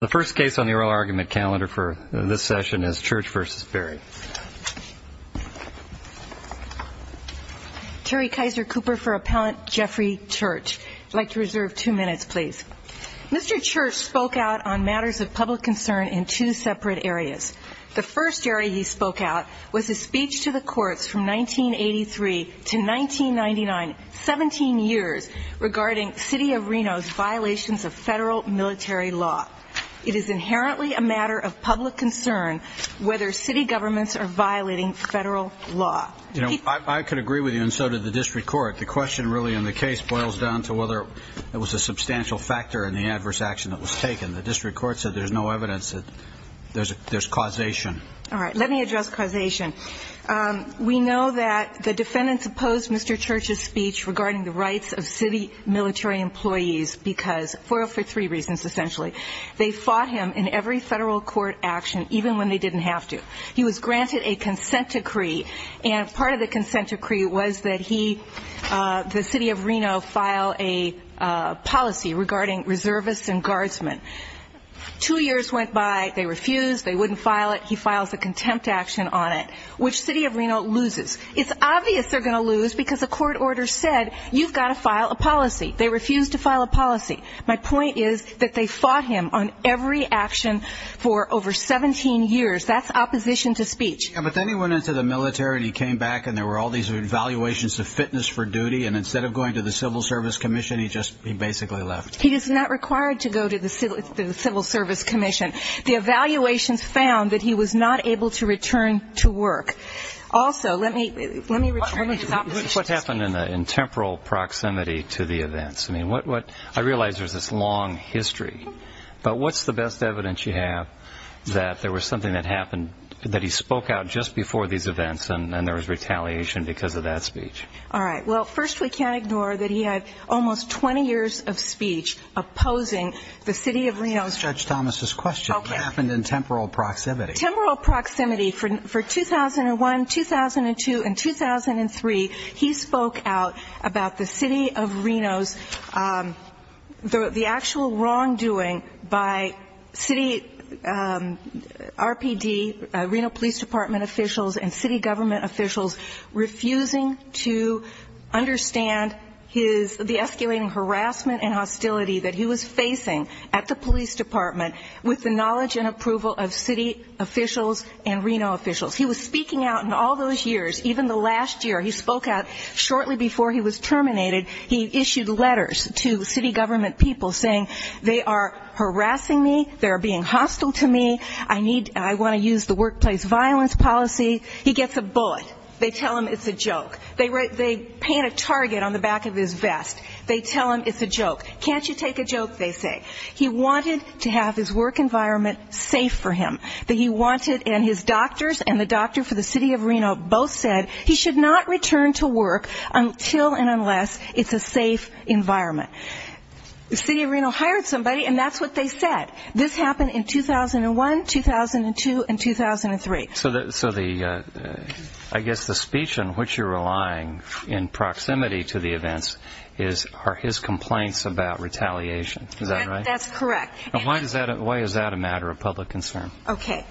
The first case on the oral argument calendar for this session is Church v. Berry. Terry Kaiser Cooper for Appellant Jeffrey Church. I'd like to reserve two minutes, please. Mr. Church spoke out on matters of public concern in two separate areas. The first area he spoke out was his speech to the courts from 1983 to 1999, 17 years regarding City of Reno's violations of federal military law. It is inherently a matter of public concern whether city governments are violating federal law. You know, I could agree with you, and so did the district court. The question really in the case boils down to whether it was a substantial factor in the adverse action that was taken. The district court said there's no evidence that there's causation. All right, let me address causation. We know that the defendants opposed Mr. Church's speech regarding the rights of city military employees because for three reasons, essentially. They fought him in every federal court action, even when they didn't have to. He was granted a consent decree, and part of the consent decree was that he, the City of Reno, file a policy regarding reservists and guardsmen. Two years went by. They refused. They wouldn't file it. He files a contempt action on it, which City of Reno loses. It's obvious they're going to lose because the court order said you've got to file a policy. They refused to file a policy. My point is that they fought him on every action for over 17 years. That's opposition to speech. But then he went into the military, and he came back, and there were all these evaluations of fitness for duty, and instead of going to the Civil Service Commission, he just basically left. He is not required to go to the Civil Service Commission. The evaluations found that he was not able to return to work. Also, let me return to his opposition to speech. What happened in temporal proximity to the events? I realize there's this long history, but what's the best evidence you have that there was something that happened, that he spoke out just before these events and there was retaliation because of that speech? All right. Well, first we can't ignore that he had almost 20 years of speech opposing the City of Reno. That's Judge Thomas' question. Okay. What happened in temporal proximity? Temporal proximity for 2001, 2002, and 2003, he spoke out about the City of Reno's the actual wrongdoing by city RPD, Reno Police Department officials and city government officials, refusing to understand the escalating harassment and hostility that he was facing at the police department with the knowledge and approval of city officials and Reno officials. He was speaking out in all those years, even the last year. He spoke out shortly before he was terminated. He issued letters to city government people saying they are harassing me, they are being hostile to me, I want to use the workplace violence policy. He gets a bullet. They tell him it's a joke. They paint a target on the back of his vest. They tell him it's a joke. Can't you take a joke, they say. He wanted to have his work environment safe for him. He wanted, and his doctors and the doctor for the City of Reno both said, he should not return to work until and unless it's a safe environment. The City of Reno hired somebody, and that's what they said. This happened in 2001, 2002, and 2003. So I guess the speech in which you're relying in proximity to the events are his complaints about retaliation. Is that right? That's correct. And why is that a matter of public concern? Okay.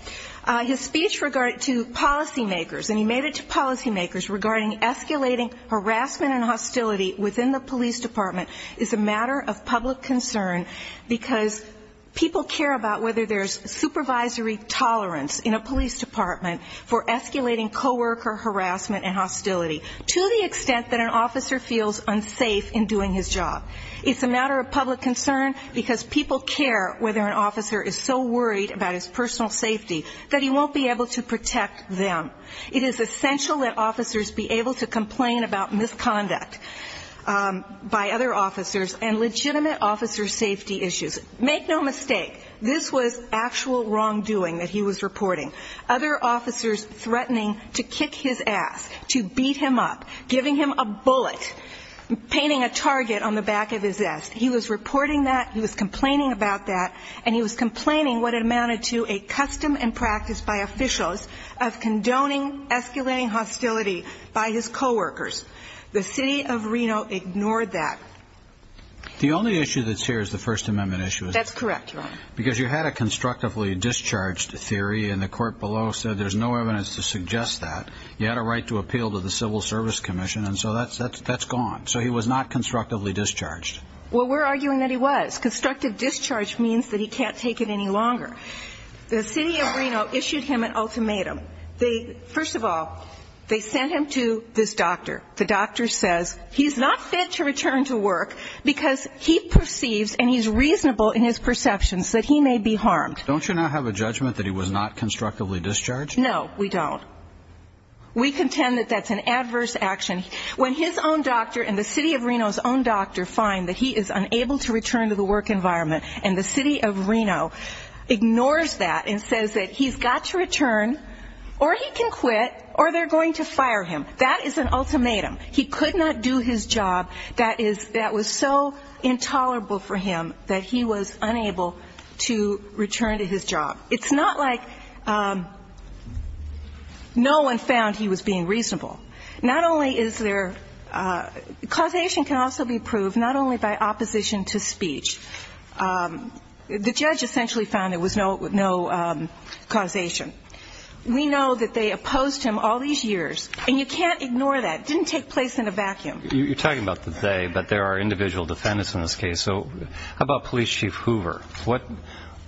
His speech to policymakers, and he made it to policymakers, regarding escalating harassment and hostility within the police department is a matter of public concern because people care about whether there's supervisory tolerance in a police department for escalating coworker harassment and hostility to the extent that an officer feels unsafe in doing his job. It's a matter of public concern because people care whether an officer is so worried about his personal safety that he won't be able to protect them. It is essential that officers be able to complain about misconduct by other officers, and legitimate officer safety issues. Make no mistake, this was actual wrongdoing that he was reporting. Other officers threatening to kick his ass, to beat him up, giving him a bullet, painting a target on the back of his ass. He was reporting that, he was complaining about that, and he was complaining what amounted to a custom and practice by officials of condoning escalating hostility by his coworkers. The city of Reno ignored that. The only issue that's here is the First Amendment issue. That's correct, Your Honor. Because you had a constructively discharged theory, and the court below said there's no evidence to suggest that. You had a right to appeal to the Civil Service Commission, and so that's gone. So he was not constructively discharged. Well, we're arguing that he was. Constructive discharge means that he can't take it any longer. The city of Reno issued him an ultimatum. First of all, they sent him to this doctor. The doctor says he's not fit to return to work because he perceives, and he's reasonable in his perceptions, that he may be harmed. Don't you now have a judgment that he was not constructively discharged? No, we don't. We contend that that's an adverse action. When his own doctor and the city of Reno's own doctor find that he is unable to return to the work environment, and the city of Reno ignores that and says that he's got to return, or he can quit, or they're going to fire him, that is an ultimatum. He could not do his job that was so intolerable for him that he was unable to return to his job. It's not like no one found he was being reasonable. Causation can also be proved not only by opposition to speech. The judge essentially found there was no causation. We know that they opposed him all these years, and you can't ignore that. It didn't take place in a vacuum. You're talking about the day, but there are individual defendants in this case. So how about Police Chief Hoover?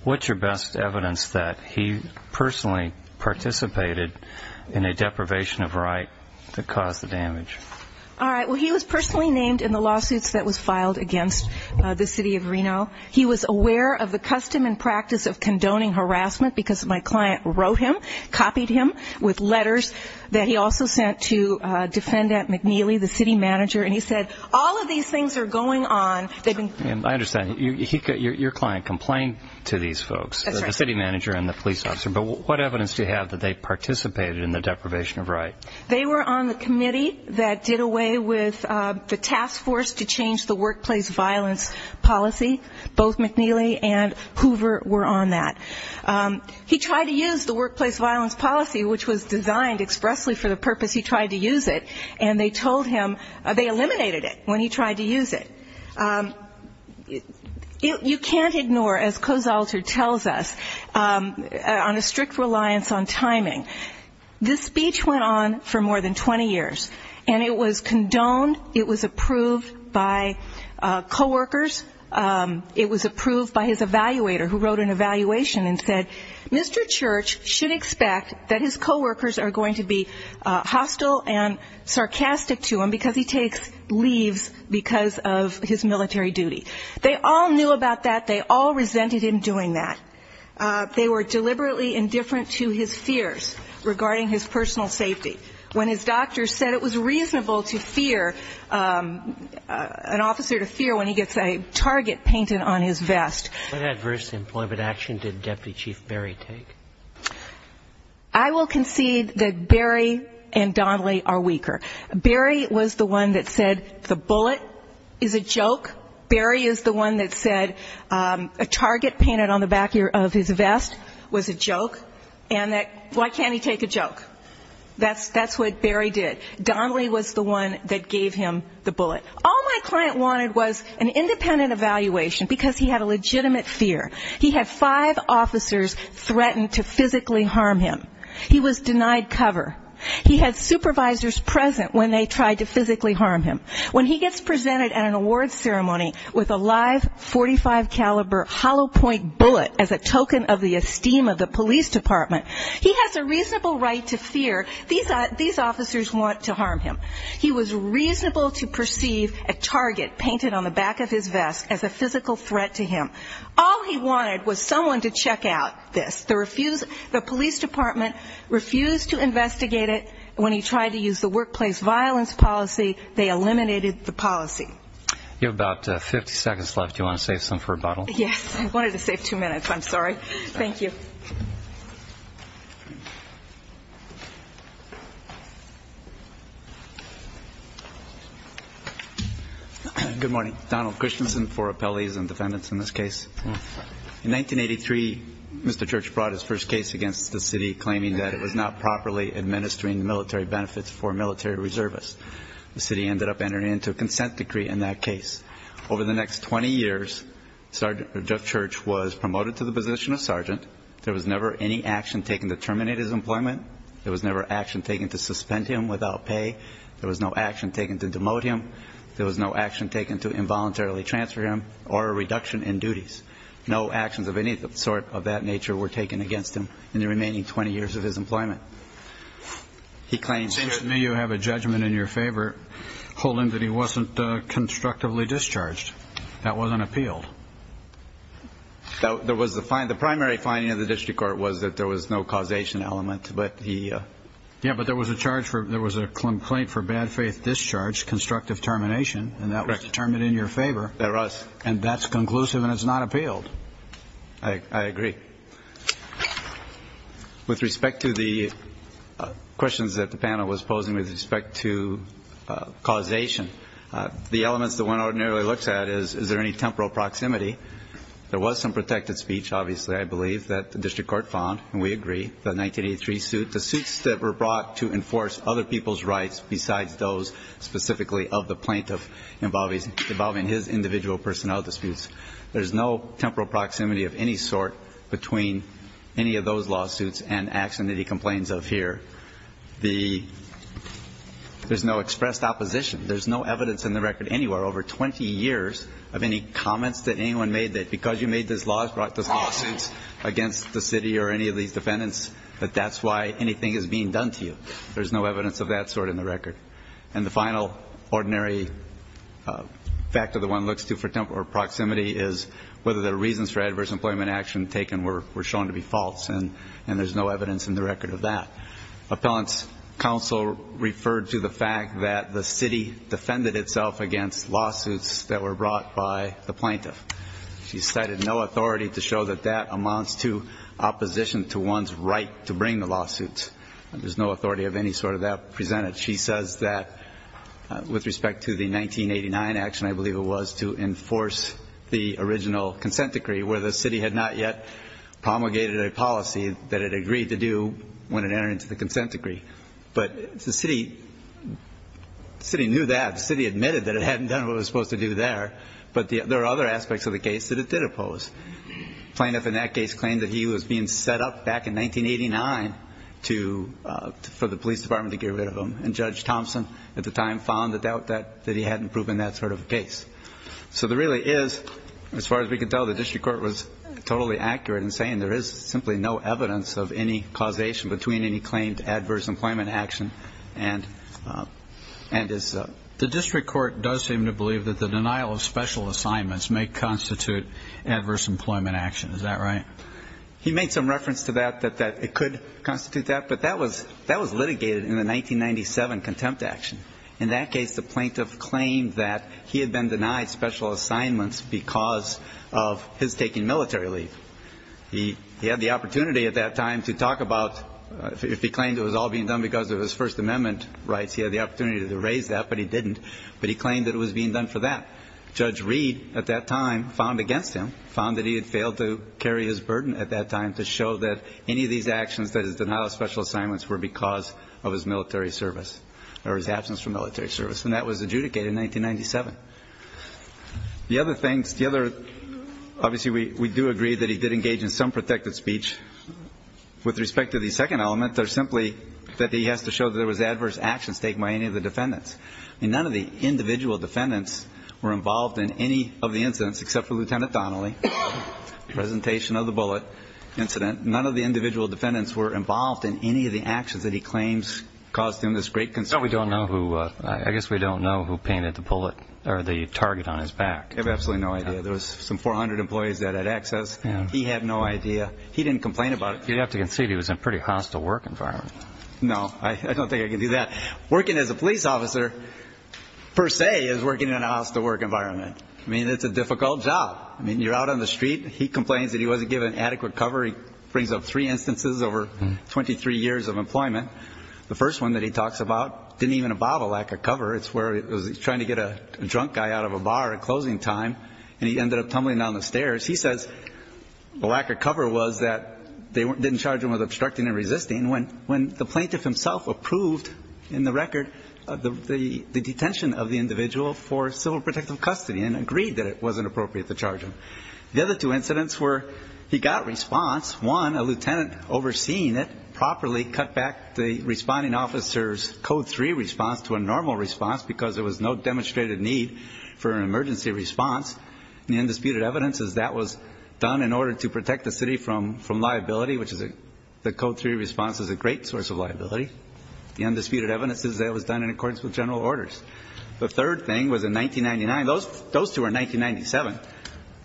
What's your best evidence that he personally participated in a deprivation of right to cause the damage? All right, well, he was personally named in the lawsuits that was filed against the city of Reno. He was aware of the custom and practice of condoning harassment because my client wrote him, copied him with letters that he also sent to Defendant McNeely, the city manager, and he said, all of these things are going on. I understand. Your client complained to these folks, the city manager and the police officer, but what evidence do you have that they participated in the deprivation of right? They were on the committee that did away with the task force to change the workplace violence policy. Both McNeely and Hoover were on that. He tried to use the workplace violence policy, which was designed expressly for the purpose he tried to use it, and they told him they eliminated it when he tried to use it. You can't ignore, as Kozolter tells us, on a strict reliance on timing. This speech went on for more than 20 years, and it was condoned, it was approved by coworkers, it was approved by his evaluator who wrote an evaluation and said, Mr. Church should expect that his coworkers are going to be hostile and sarcastic to him because he takes leaves because of his military duty. They all knew about that. They all resented him doing that. They were deliberately indifferent to his fears regarding his personal safety. When his doctor said it was reasonable to fear, an officer to fear when he gets a target painted on his vest. What adverse employment action did Deputy Chief Berry take? I will concede that Berry and Donnelly are weaker. Berry was the one that said the bullet is a joke. Berry is the one that said a target painted on the back of his vest was a joke, and that why can't he take a joke. That's what Berry did. Donnelly was the one that gave him the bullet. All my client wanted was an independent evaluation because he had a legitimate fear. He had five officers threatened to physically harm him. He was denied cover. He had supervisors present when they tried to physically harm him. When he gets presented at an awards ceremony with a live .45 caliber hollow point bullet as a token of the esteem of the police department, he has a reasonable right to fear these officers want to harm him. He was reasonable to perceive a target painted on the back of his vest as a physical threat to him. All he wanted was someone to check out this. The police department refused to investigate it. When he tried to use the workplace violence policy, they eliminated the policy. You have about 50 seconds left. Do you want to save some for rebuttal? Yes. I wanted to save two minutes. I'm sorry. Thank you. Good morning. Donnell Christensen for appellees and defendants in this case. In 1983, Mr. Church brought his first case against the city, claiming that it was not properly administering military benefits for military reservists. The city ended up entering into a consent decree in that case. Over the next 20 years, Sergeant Jeff Church was promoted to the position of sergeant. There was never any action taken to terminate his employment. There was never action taken to suspend him without pay. There was no action taken to demote him. There was no action taken to involuntarily transfer him or a reduction in duties. No actions of any sort of that nature were taken against him in the remaining 20 years of his employment. It seems to me you have a judgment in your favor, holding that he wasn't constructively discharged, that wasn't appealed. The primary finding of the district court was that there was no causation element. Yeah, but there was a complaint for bad faith discharge, constructive termination, and that was determined in your favor. And that's conclusive and it's not appealed. I agree. With respect to the questions that the panel was posing with respect to causation, the elements that one ordinarily looks at is, is there any temporal proximity? There was some protected speech, obviously, I believe, that the district court found, and we agree, the 1983 suit, the suits that were brought to enforce other people's rights besides those specifically of the plaintiff involving his individual personnel disputes. There's no temporal proximity of any sort between any of those lawsuits and action that he complains of here. There's no expressed opposition. There's no evidence in the record anywhere over 20 years of any comments that anyone made that because you made those laws, brought those lawsuits against the city or any of these defendants, that that's why anything is being done to you. There's no evidence of that sort in the record. And the final ordinary fact that one looks to for temporal proximity is whether the reasons for adverse employment action taken were shown to be false, and there's no evidence in the record of that. Appellant's counsel referred to the fact that the city defended itself against lawsuits that were brought by the plaintiff. She cited no authority to show that that amounts to opposition to one's right to bring the lawsuits. There's no authority of any sort of that presented. She says that with respect to the 1989 action, I believe it was, to enforce the original consent decree, where the city had not yet promulgated a policy that it agreed to do when it entered into the consent decree. But the city knew that. The city admitted that it hadn't done what it was supposed to do there. But there are other aspects of the case that it did oppose. The plaintiff in that case claimed that he was being set up back in 1989 for the police department to get rid of him, and Judge Thompson at the time found the doubt that he hadn't proven that sort of case. So there really is, as far as we could tell, the district court was totally accurate in saying there is simply no evidence of any causation between any claimed adverse employment action and his. The district court does seem to believe that the denial of special assignments may constitute adverse employment action. Is that right? He made some reference to that, that it could constitute that. But that was litigated in the 1997 contempt action. In that case, the plaintiff claimed that he had been denied special assignments because of his taking military leave. He had the opportunity at that time to talk about if he claimed it was all being done because of his First Amendment rights, he had the opportunity to raise that, but he didn't. But he claimed that it was being done for that. Judge Reed at that time found against him, found that he had failed to carry his burden at that time to show that any of these actions that is denial of special assignments were because of his military service or his absence from military service, and that was adjudicated in 1997. The other things, the other, obviously we do agree that he did engage in some protected speech. With respect to the second element, they're simply that he has to show that there was adverse action taken by any of the defendants. And none of the individual defendants were involved in any of the incidents except for Lieutenant Donnelly, the presentation of the bullet incident. None of the individual defendants were involved in any of the actions that he claims caused him this great concern. No, we don't know who, I guess we don't know who painted the bullet or the target on his back. I have absolutely no idea. There was some 400 employees that had access. He had no idea. He didn't complain about it. You'd have to concede he was in a pretty hostile work environment. No, I don't think I can do that. Working as a police officer per se is working in a hostile work environment. I mean, it's a difficult job. I mean, you're out on the street. He complains that he wasn't given adequate cover. He brings up three instances over 23 years of employment. The first one that he talks about didn't even involve a lack of cover. It's where he was trying to get a drunk guy out of a bar at closing time, and he ended up tumbling down the stairs. He says the lack of cover was that they didn't charge him with obstructing and resisting when the plaintiff himself approved, in the record, the detention of the individual for civil protective custody and agreed that it wasn't appropriate to charge him. The other two incidents were he got a response, one, a lieutenant overseeing it, properly cut back the responding officer's Code 3 response to a normal response because there was no demonstrated need for an emergency response. The undisputed evidence is that was done in order to protect the city from liability, which the Code 3 response is a great source of liability. The undisputed evidence is that it was done in accordance with general orders. The third thing was in 1999. Those two are 1997.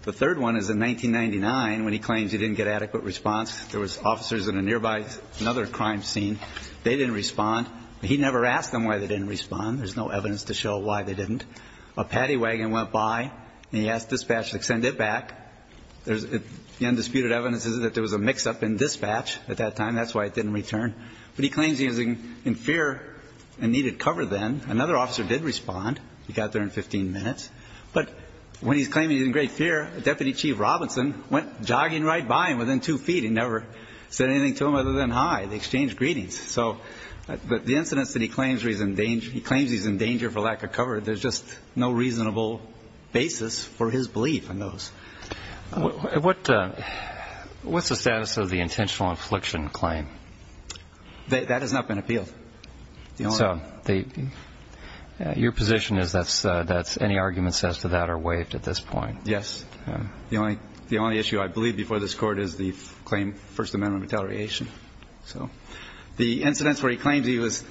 The third one is in 1999 when he claims he didn't get adequate response. There was officers in a nearby another crime scene. They didn't respond. He never asked them why they didn't respond. There's no evidence to show why they didn't. A paddy wagon went by, and he asked dispatch to send it back. The undisputed evidence is that there was a mix-up in dispatch at that time. That's why it didn't return. But he claims he was in fear and needed cover then. Another officer did respond. He got there in 15 minutes. But when he's claiming he's in great fear, Deputy Chief Robinson went jogging right by him within two feet. He never said anything to him other than hi. They exchanged greetings. But the incidents that he claims he's in danger for lack of cover, there's just no reasonable basis for his belief in those. What's the status of the intentional affliction claim? That has not been appealed. So your position is that any arguments as to that are waived at this point? Yes. The only issue I believe before this Court is the claim of First Amendment retaliation. The incidents where he claims he was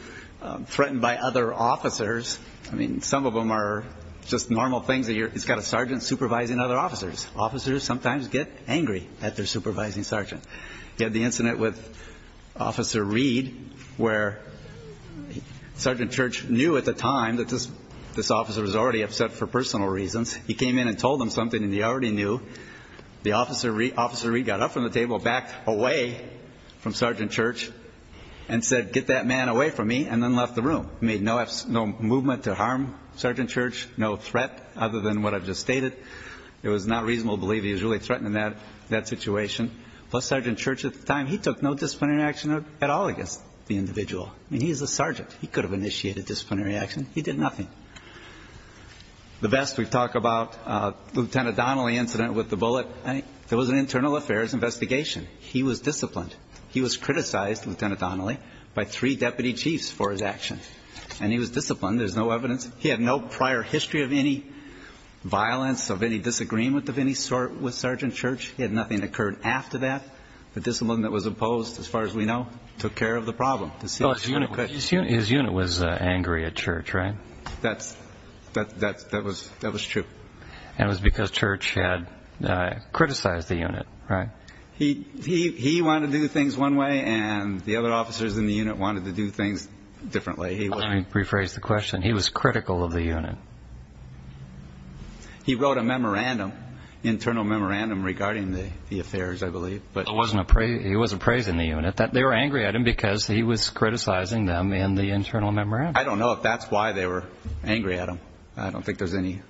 threatened by other officers, I mean, some of them are just normal things. He's got a sergeant supervising other officers. Officers sometimes get angry at their supervising sergeant. He had the incident with Officer Reed where Sergeant Church knew at the time that this officer was already upset for personal reasons. He came in and told him something, and he already knew. Officer Reed got up from the table, backed away from Sergeant Church, and said, get that man away from me, and then left the room. He made no movement to harm Sergeant Church, no threat other than what I've just stated. It was not reasonable to believe he was really threatening that situation. Plus, Sergeant Church at the time, he took no disciplinary action at all against the individual. I mean, he is a sergeant. He could have initiated disciplinary action. He did nothing. The vest we've talked about, Lieutenant Donnelly incident with the bullet, there was an internal affairs investigation. He was disciplined. He was criticized, Lieutenant Donnelly, by three deputy chiefs for his actions, and he was disciplined. There's no evidence. He had no prior history of any violence, of any disagreement with Sergeant Church. He had nothing that occurred after that. The discipline that was imposed, as far as we know, took care of the problem. His unit was angry at Church, right? That was true. And it was because Church had criticized the unit, right? He wanted to do things one way, and the other officers in the unit wanted to do things differently. Let me rephrase the question. He was critical of the unit. He wrote a memorandum, internal memorandum, regarding the affairs, I believe. He wasn't praising the unit. They were angry at him because he was criticizing them in the internal memorandum. I don't know if that's why they were angry at him. I don't think there's any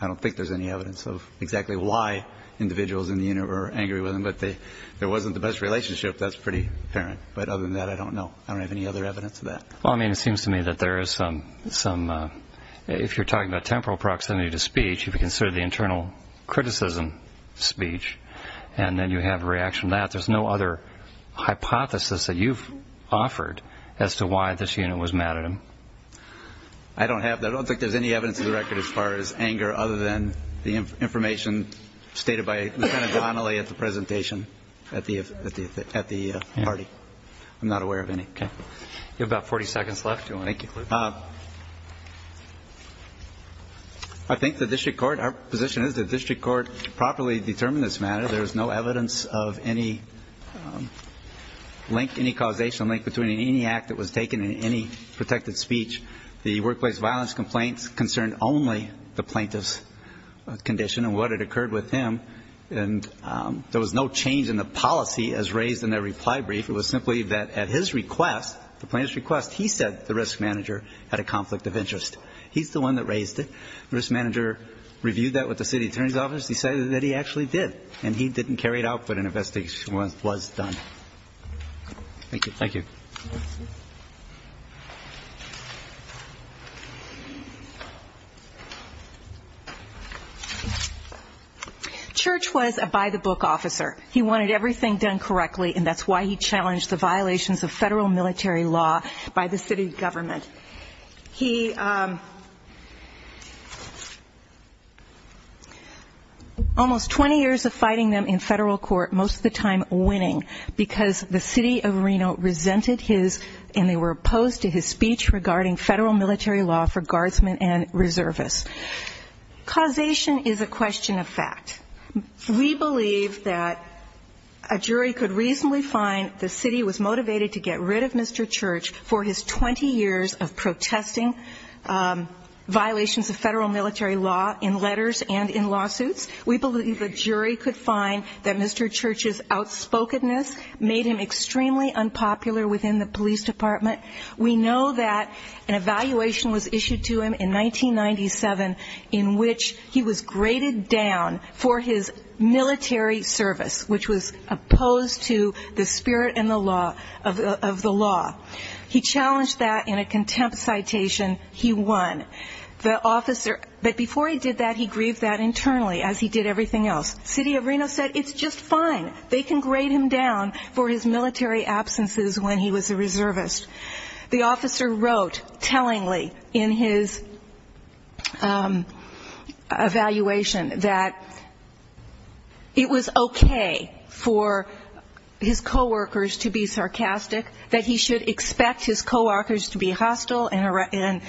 evidence of exactly why individuals in the unit were angry with him, but if it wasn't the best relationship, that's pretty apparent. But other than that, I don't know. I don't have any other evidence of that. Well, I mean, it seems to me that there is some, if you're talking about temporal proximity to speech, if you consider the internal criticism speech, and then you have a reaction to that, there's no other hypothesis that you've offered as to why this unit was mad at him. I don't have that. I don't think there's any evidence of the record as far as anger, other than the information stated by Lieutenant Donnelly at the presentation at the party. I'm not aware of any. Okay. You have about 40 seconds left. Thank you. I think the district court, our position is the district court properly determined this matter. There's no evidence of any link, any causational link between any act that was taken and any protected speech. The workplace violence complaints concerned only the plaintiff's condition and what had occurred with him, and there was no change in the policy as raised in their reply brief. It was simply that at his request, the plaintiff's request, he said the risk manager had a conflict of interest. He's the one that raised it. At his request, he said that he actually did, and he didn't carry it out, but an investigation was done. Thank you. Church was a by-the-book officer. He wanted everything done correctly, and that's why he challenged the violations of federal military law by the city government. He almost 20 years of fighting them in federal court, most of the time winning because the city of Reno resented his, and they were opposed to his speech regarding federal military law for guardsmen and reservists. Causation is a question of fact. We believe that a jury could reasonably find the city was motivated to get rid of Mr. Church for his 20 years of protesting violations of federal military law in letters and in lawsuits. We believe a jury could find that Mr. Church's outspokenness made him extremely unpopular within the police department. We know that an evaluation was issued to him in 1997 in which he was graded down for his military service, which was opposed to the spirit of the law. He challenged that in a contempt citation. He won. But before he did that, he grieved that internally as he did everything else. The city of Reno said it's just fine. They can grade him down for his military absences when he was a reservist. The officer wrote tellingly in his evaluation that it was okay for his coworkers to be sarcastic, that he should expect his coworkers to be hostile and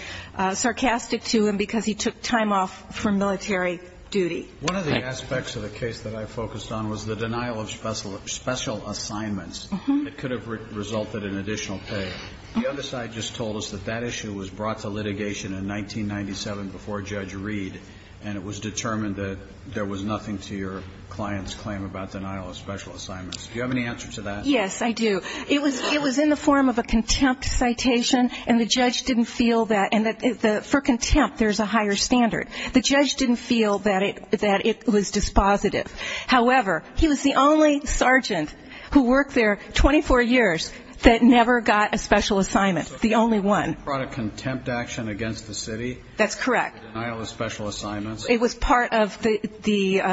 sarcastic to him because he took time off for military duty. One of the aspects of the case that I focused on was the denial of special assignments that could have resulted in additional pay. The other side just told us that that issue was brought to litigation in 1997 before Judge Reed, and it was determined that there was nothing to your client's claim about denial of special assignments. Do you have any answer to that? Yes, I do. It was in the form of a contempt citation, and the judge didn't feel that. And for contempt, there's a higher standard. The judge didn't feel that it was dispositive. However, he was the only sergeant who worked there 24 years that never got a special assignment, the only one. So he brought a contempt action against the city? That's correct. Denial of special assignments? It was part of the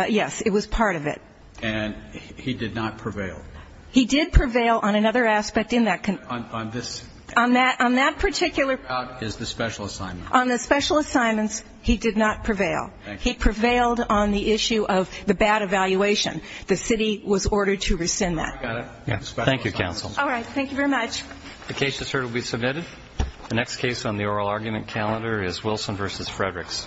yes, it was part of it. And he did not prevail? He did prevail on another aspect in that. On this? On that particular. Is the special assignment. On the special assignments, he did not prevail. He prevailed on the issue of the bad evaluation. The city was ordered to rescind that. Thank you, counsel. All right. Thank you very much. The case is heard and will be submitted. The next case on the oral argument calendar is Wilson v. Fredericks.